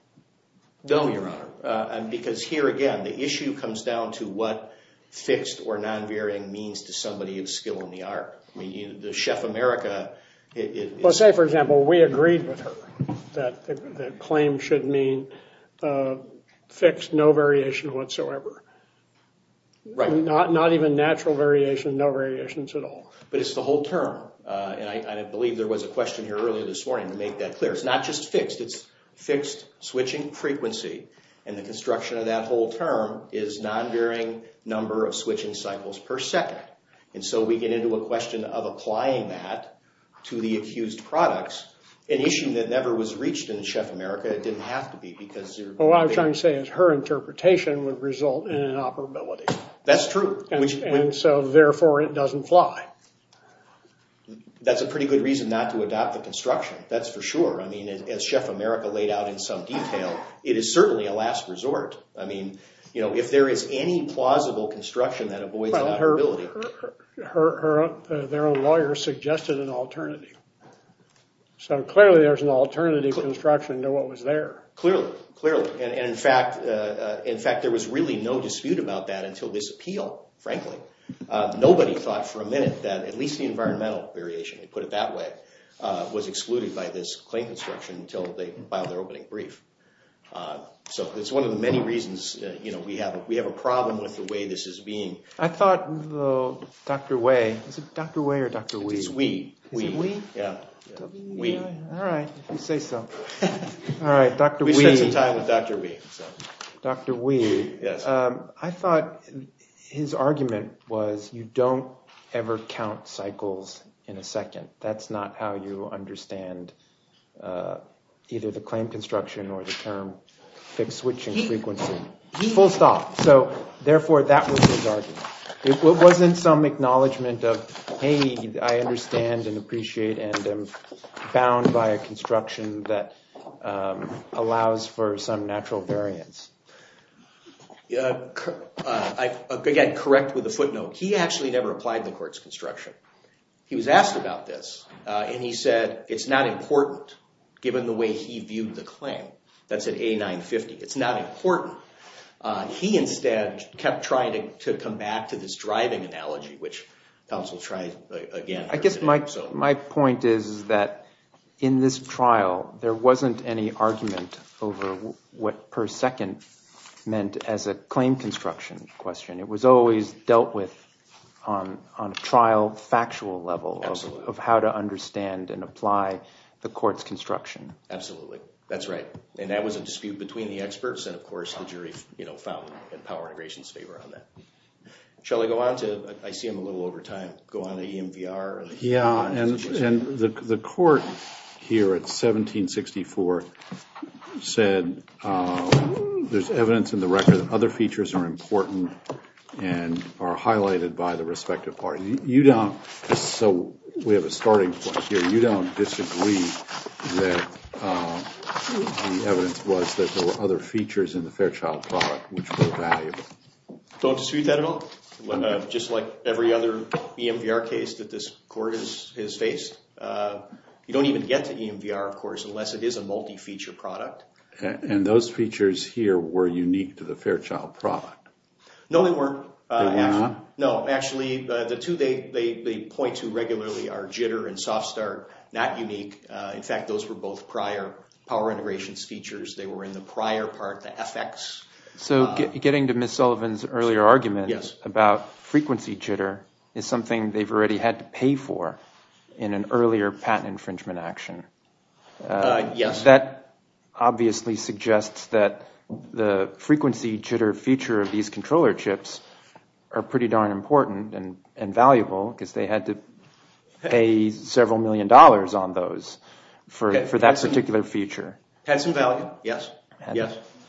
No, Your Honor. Because here, again, the issue comes down to what fixed or non-varying means to somebody of skill in the art. I mean, the Chef America. Well, say, for example, we agreed with her that the claim should mean fixed, no variation whatsoever. Right. Not even natural variation, no variations at all. But it's the whole term. And I believe there was a question here earlier this morning to make that clear. It's not just fixed. It's fixed switching frequency. And the construction of that whole term is non-varying number of switching cycles per second. And so we get into a question of applying that to the accused products, an issue that never was reached in Chef America. It didn't have to be because you're— Well, what I'm trying to say is her interpretation would result in inoperability. That's true. And so, therefore, it doesn't fly. That's a pretty good reason not to adopt the construction. That's for sure. I mean, as Chef America laid out in some detail, it is certainly a last resort. I mean, if there is any plausible construction that avoids inoperability— Well, their own lawyer suggested an alternative. So clearly there's an alternative construction to what was there. Clearly, clearly. And, in fact, there was really no dispute about that until this appeal, frankly. Nobody thought for a minute that at least the environmental variation, to put it that way, was excluded by this claim construction until they filed their opening brief. So it's one of the many reasons we have a problem with the way this is being— I thought Dr. Way—is it Dr. Way or Dr. Wee? It's Wee. Is it Wee? Yeah. Wee. All right, if you say so. All right, Dr. Wee. We spent some time with Dr. Wee. Dr. Wee. Yes. I thought his argument was you don't ever count cycles in a second. That's not how you understand either the claim construction or the term fixed switching frequency. Full stop. So, therefore, that was his argument. It wasn't some acknowledgment of, hey, I understand and appreciate and am bound by a construction that allows for some natural variance. Again, correct with a footnote. He actually never applied the court's construction. He was asked about this, and he said it's not important given the way he viewed the claim. That's at A950. It's not important. He instead kept trying to come back to this driving analogy, which counsel tried again. I guess my point is that in this trial, there wasn't any argument over what per second meant as a claim construction question. It was always dealt with on a trial factual level of how to understand and apply the court's construction. Absolutely. That's right. And that was a dispute between the experts, and, of course, the jury found in power integrations favor on that. Shelly, I see I'm a little over time. Go on to EMVR. Yeah, and the court here at 1764 said there's evidence in the record that other features are important and are highlighted by the respective parties. So we have a starting point here. You don't disagree that the evidence was that there were other features in the Fairchild product which were valuable? Don't dispute that at all. Just like every other EMVR case that this court has faced, you don't even get to EMVR, of course, unless it is a multi-feature product. And those features here were unique to the Fairchild product? No, they weren't. They were not? No, actually, the two they point to regularly are jitter and soft start. Not unique. In fact, those were both prior power integrations features. They were in the prior part, the FX. So getting to Ms. Sullivan's earlier argument about frequency jitter is something they've already had to pay for in an earlier patent infringement action. Yes. That obviously suggests that the frequency jitter feature of these controller chips are pretty darn important and valuable because they had to pay several million dollars on those for that particular feature. Had some value. Yes.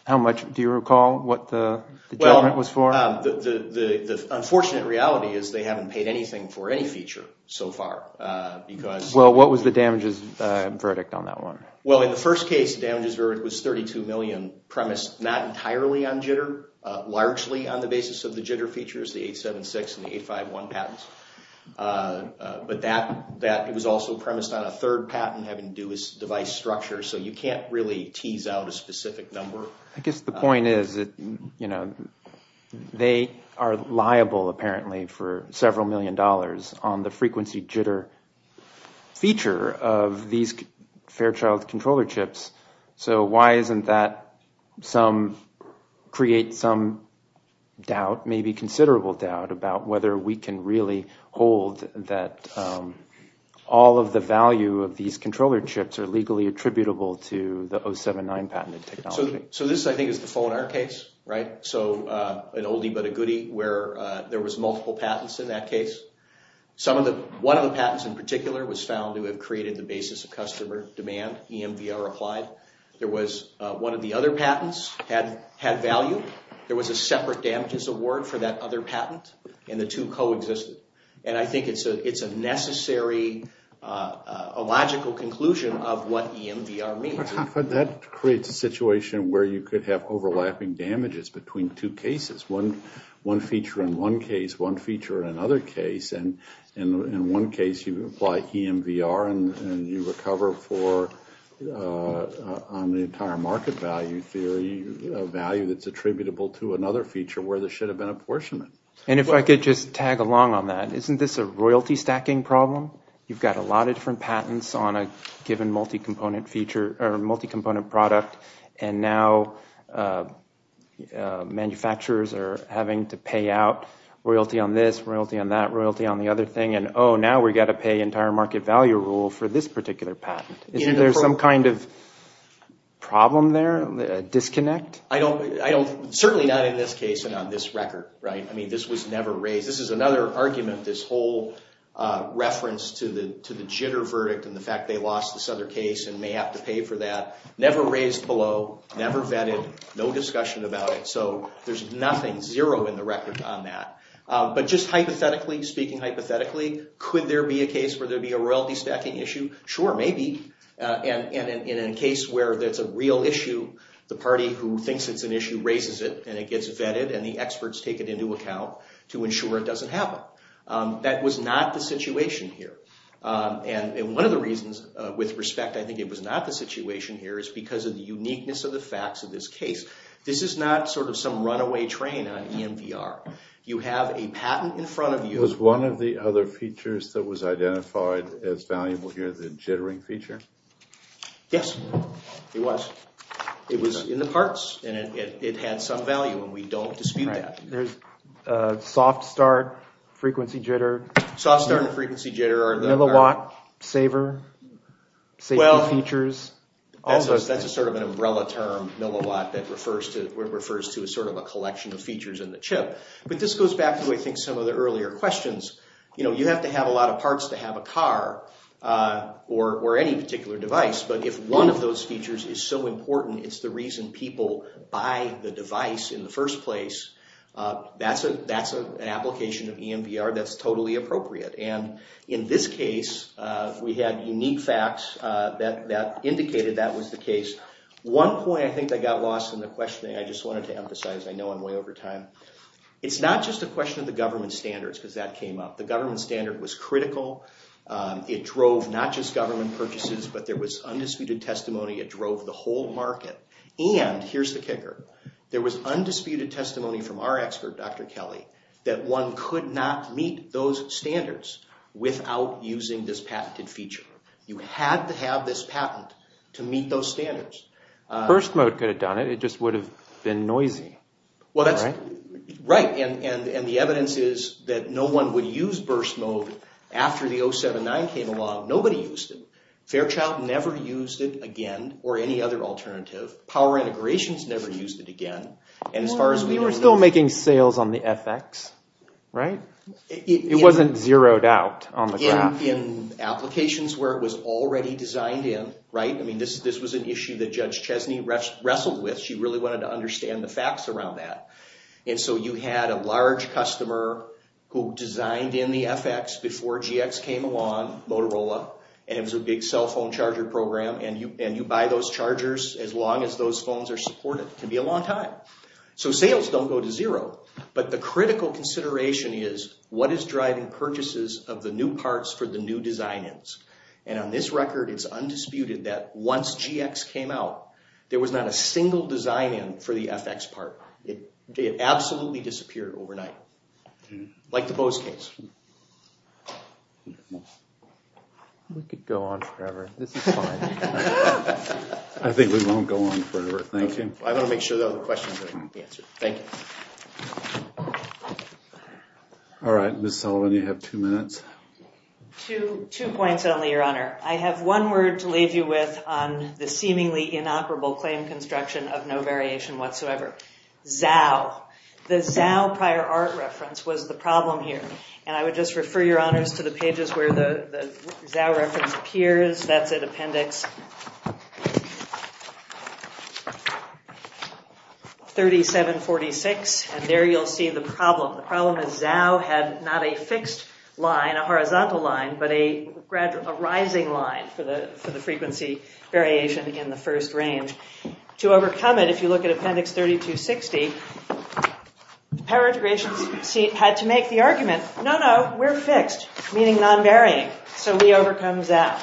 How much? Do you recall what the judgment was for? Well, the unfortunate reality is they haven't paid anything for any feature so far. Well, what was the damages verdict on that one? Well, in the first case, the damages verdict was $32 million premised not entirely on jitter, largely on the basis of the jitter features, the 876 and the 851 patents. But that was also premised on a third patent having to do with device structure. So you can't really tease out a specific number. I guess the point is that they are liable, apparently, for several million dollars on the frequency jitter feature of these Fairchild controller chips. So why isn't that create some doubt, maybe considerable doubt, about whether we can really hold that all of the value of these controller chips are legally attributable to the 079 patented technology? So this, I think, is the Fonar case, right? So an oldie but a goodie where there was multiple patents in that case. One of the patents in particular was found to have created the basis of customer demand, EMVR applied. There was one of the other patents had value. There was a separate damages award for that other patent, and the two coexisted. And I think it's a necessary, a logical conclusion of what EMVR means. But that creates a situation where you could have overlapping damages between two cases, one feature in one case, one feature in another case. And in one case, you apply EMVR and you recover for, on the entire market value theory, a value that's attributable to another feature where this should have been apportionment. And if I could just tag along on that. Isn't this a royalty stacking problem? You've got a lot of different patents on a given multi-component feature or multi-component product. And now manufacturers are having to pay out royalty on this, royalty on that, royalty on the other thing. And, oh, now we've got to pay entire market value rule for this particular patent. Isn't there some kind of problem there, a disconnect? I don't, certainly not in this case and on this record, right? I mean, this was never raised. This is another argument, this whole reference to the jitter verdict and the fact they lost this other case and may have to pay for that. Never raised below, never vetted, no discussion about it. So there's nothing, zero in the record on that. But just hypothetically, speaking hypothetically, could there be a case where there'd be a royalty stacking issue? Sure, maybe. And in a case where that's a real issue, the party who thinks it's an issue raises it and it gets vetted and the experts take it into account to ensure it doesn't happen. That was not the situation here. And one of the reasons, with respect, I think it was not the situation here is because of the uniqueness of the facts of this case. This is not sort of some runaway train on EMVR. You have a patent in front of you. Was one of the other features that was identified as valuable here the jittering feature? Yes, it was. It was in the parts and it had some value and we don't dispute that. There's soft start, frequency jitter. Soft start and frequency jitter are the- Milliwatt, saver, safety features. Well, that's a sort of an umbrella term, milliwatt, that refers to a sort of a collection of features in the chip. But this goes back to, I think, some of the earlier questions. You know, you have to have a lot of parts to have a car or any particular device. But if one of those features is so important, it's the reason people buy the device in the first place, that's an application of EMVR that's totally appropriate. And in this case, we had unique facts that indicated that was the case. One point I think that got lost in the questioning, I just wanted to emphasize, I know I'm way over time. It's not just a question of the government standards because that came up. The government standard was critical. It drove not just government purchases, but there was undisputed testimony. It drove the whole market. And here's the kicker. There was undisputed testimony from our expert, Dr. Kelly, that one could not meet those standards without using this patented feature. You had to have this patent to meet those standards. Burst mode could have done it. It just would have been noisy. Well, that's right. And the evidence is that no one would use burst mode after the 079 came along. Nobody used it. Fairchild never used it again or any other alternative. Power integrations never used it again. And as far as we know… Well, we were still making sales on the FX, right? It wasn't zeroed out on the graph. In applications where it was already designed in, right? I mean, this was an issue that Judge Chesney wrestled with. She really wanted to understand the facts around that. And so you had a large customer who designed in the FX before GX came along, Motorola, and it was a big cell phone charger program. And you buy those chargers as long as those phones are supported. It can be a long time. So sales don't go to zero. But the critical consideration is, what is driving purchases of the new parts for the new design-ins? And on this record, it's undisputed that once GX came out, there was not a single design-in for the FX part. It absolutely disappeared overnight. Like the Bose case. We could go on forever. This is fine. I think we won't go on forever. Thank you. I want to make sure the other questions are answered. Thank you. All right. Ms. Sullivan, you have two minutes. Two points only, Your Honor. I have one word to leave you with on the seemingly inoperable claim construction of no variation whatsoever. ZOW. The ZOW prior art reference was the problem here. And I would just refer, Your Honors, to the pages where the ZOW reference appears. That's at Appendix... And there you'll see the problem. The problem is ZOW had not a fixed line, a horizontal line, but a rising line for the frequency variation in the first range. To overcome it, if you look at Appendix 3260, the power integration had to make the argument, no, no, we're fixed, meaning non-varying. So we overcome ZOW.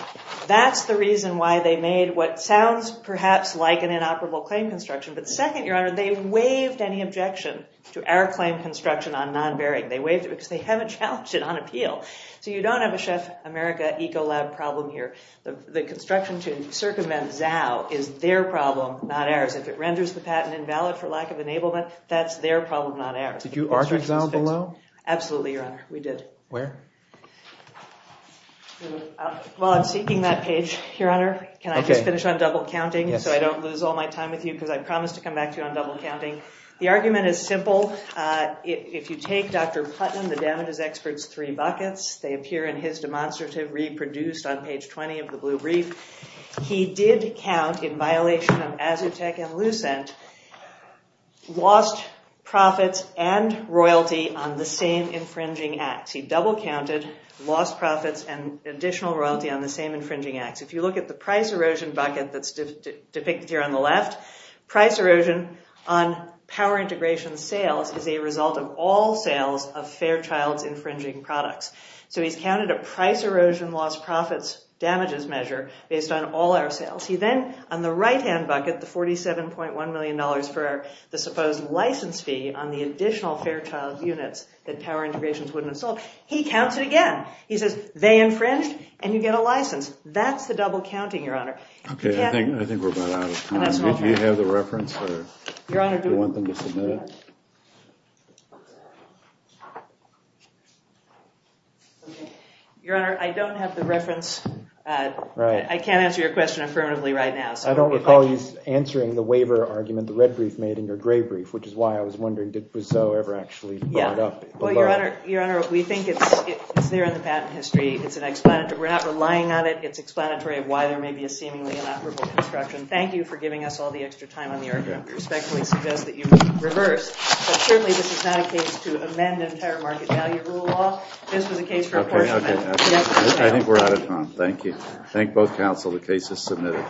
That's the reason why they made what sounds perhaps like an inoperable claim construction. But second, Your Honor, they waived any objection to our claim construction on non-varying. They waived it because they haven't challenged it on appeal. So you don't have a Chef America Ecolab problem here. The construction to circumvent ZOW is their problem, not ours. If it renders the patent invalid for lack of enablement, that's their problem, not ours. Did you argue ZOW below? Absolutely, Your Honor. We did. Where? Well, I'm seeking that page, Your Honor. Can I just finish on double counting so I don't lose all my time with you? Because I promised to come back to you on double counting. The argument is simple. If you take Dr. Putnam, the damages expert's three buckets, they appear in his demonstrative, reproduced on page 20 of the Blue Brief. He did count, in violation of Azutech and Lucent, lost profits and royalty on the same infringing acts. He double counted lost profits and additional royalty on the same infringing acts. If you look at the price erosion bucket that's depicted here on the left, price erosion on power integration sales is a result of all sales of Fairchild's infringing products. So he's counted a price erosion lost profits damages measure based on all our sales. He then, on the right-hand bucket, the $47.1 million for the supposed license fee on the additional Fairchild units that Power Integrations wouldn't have sold, he counts it again. He says they infringed and you get a license. That's the double counting, Your Honor. Okay, I think we're about out of time. Do you have the reference or do you want them to submit it? Your Honor, I don't have the reference. I can't answer your question affirmatively right now. I don't recall you answering the waiver argument the red brief made in your gray brief, which is why I was wondering, did Briseau ever actually put it up? Your Honor, we think it's there in the patent history. We're not relying on it. It's explanatory of why there may be a seemingly inoperable construction. Thank you for giving us all the extra time on the argument. I respectfully suggest that you reverse. But certainly this is not a case to amend entire market value rule law. This was a case for a portion of it. I think we're out of time. Thank you. Thank both counsel. The case is submitted.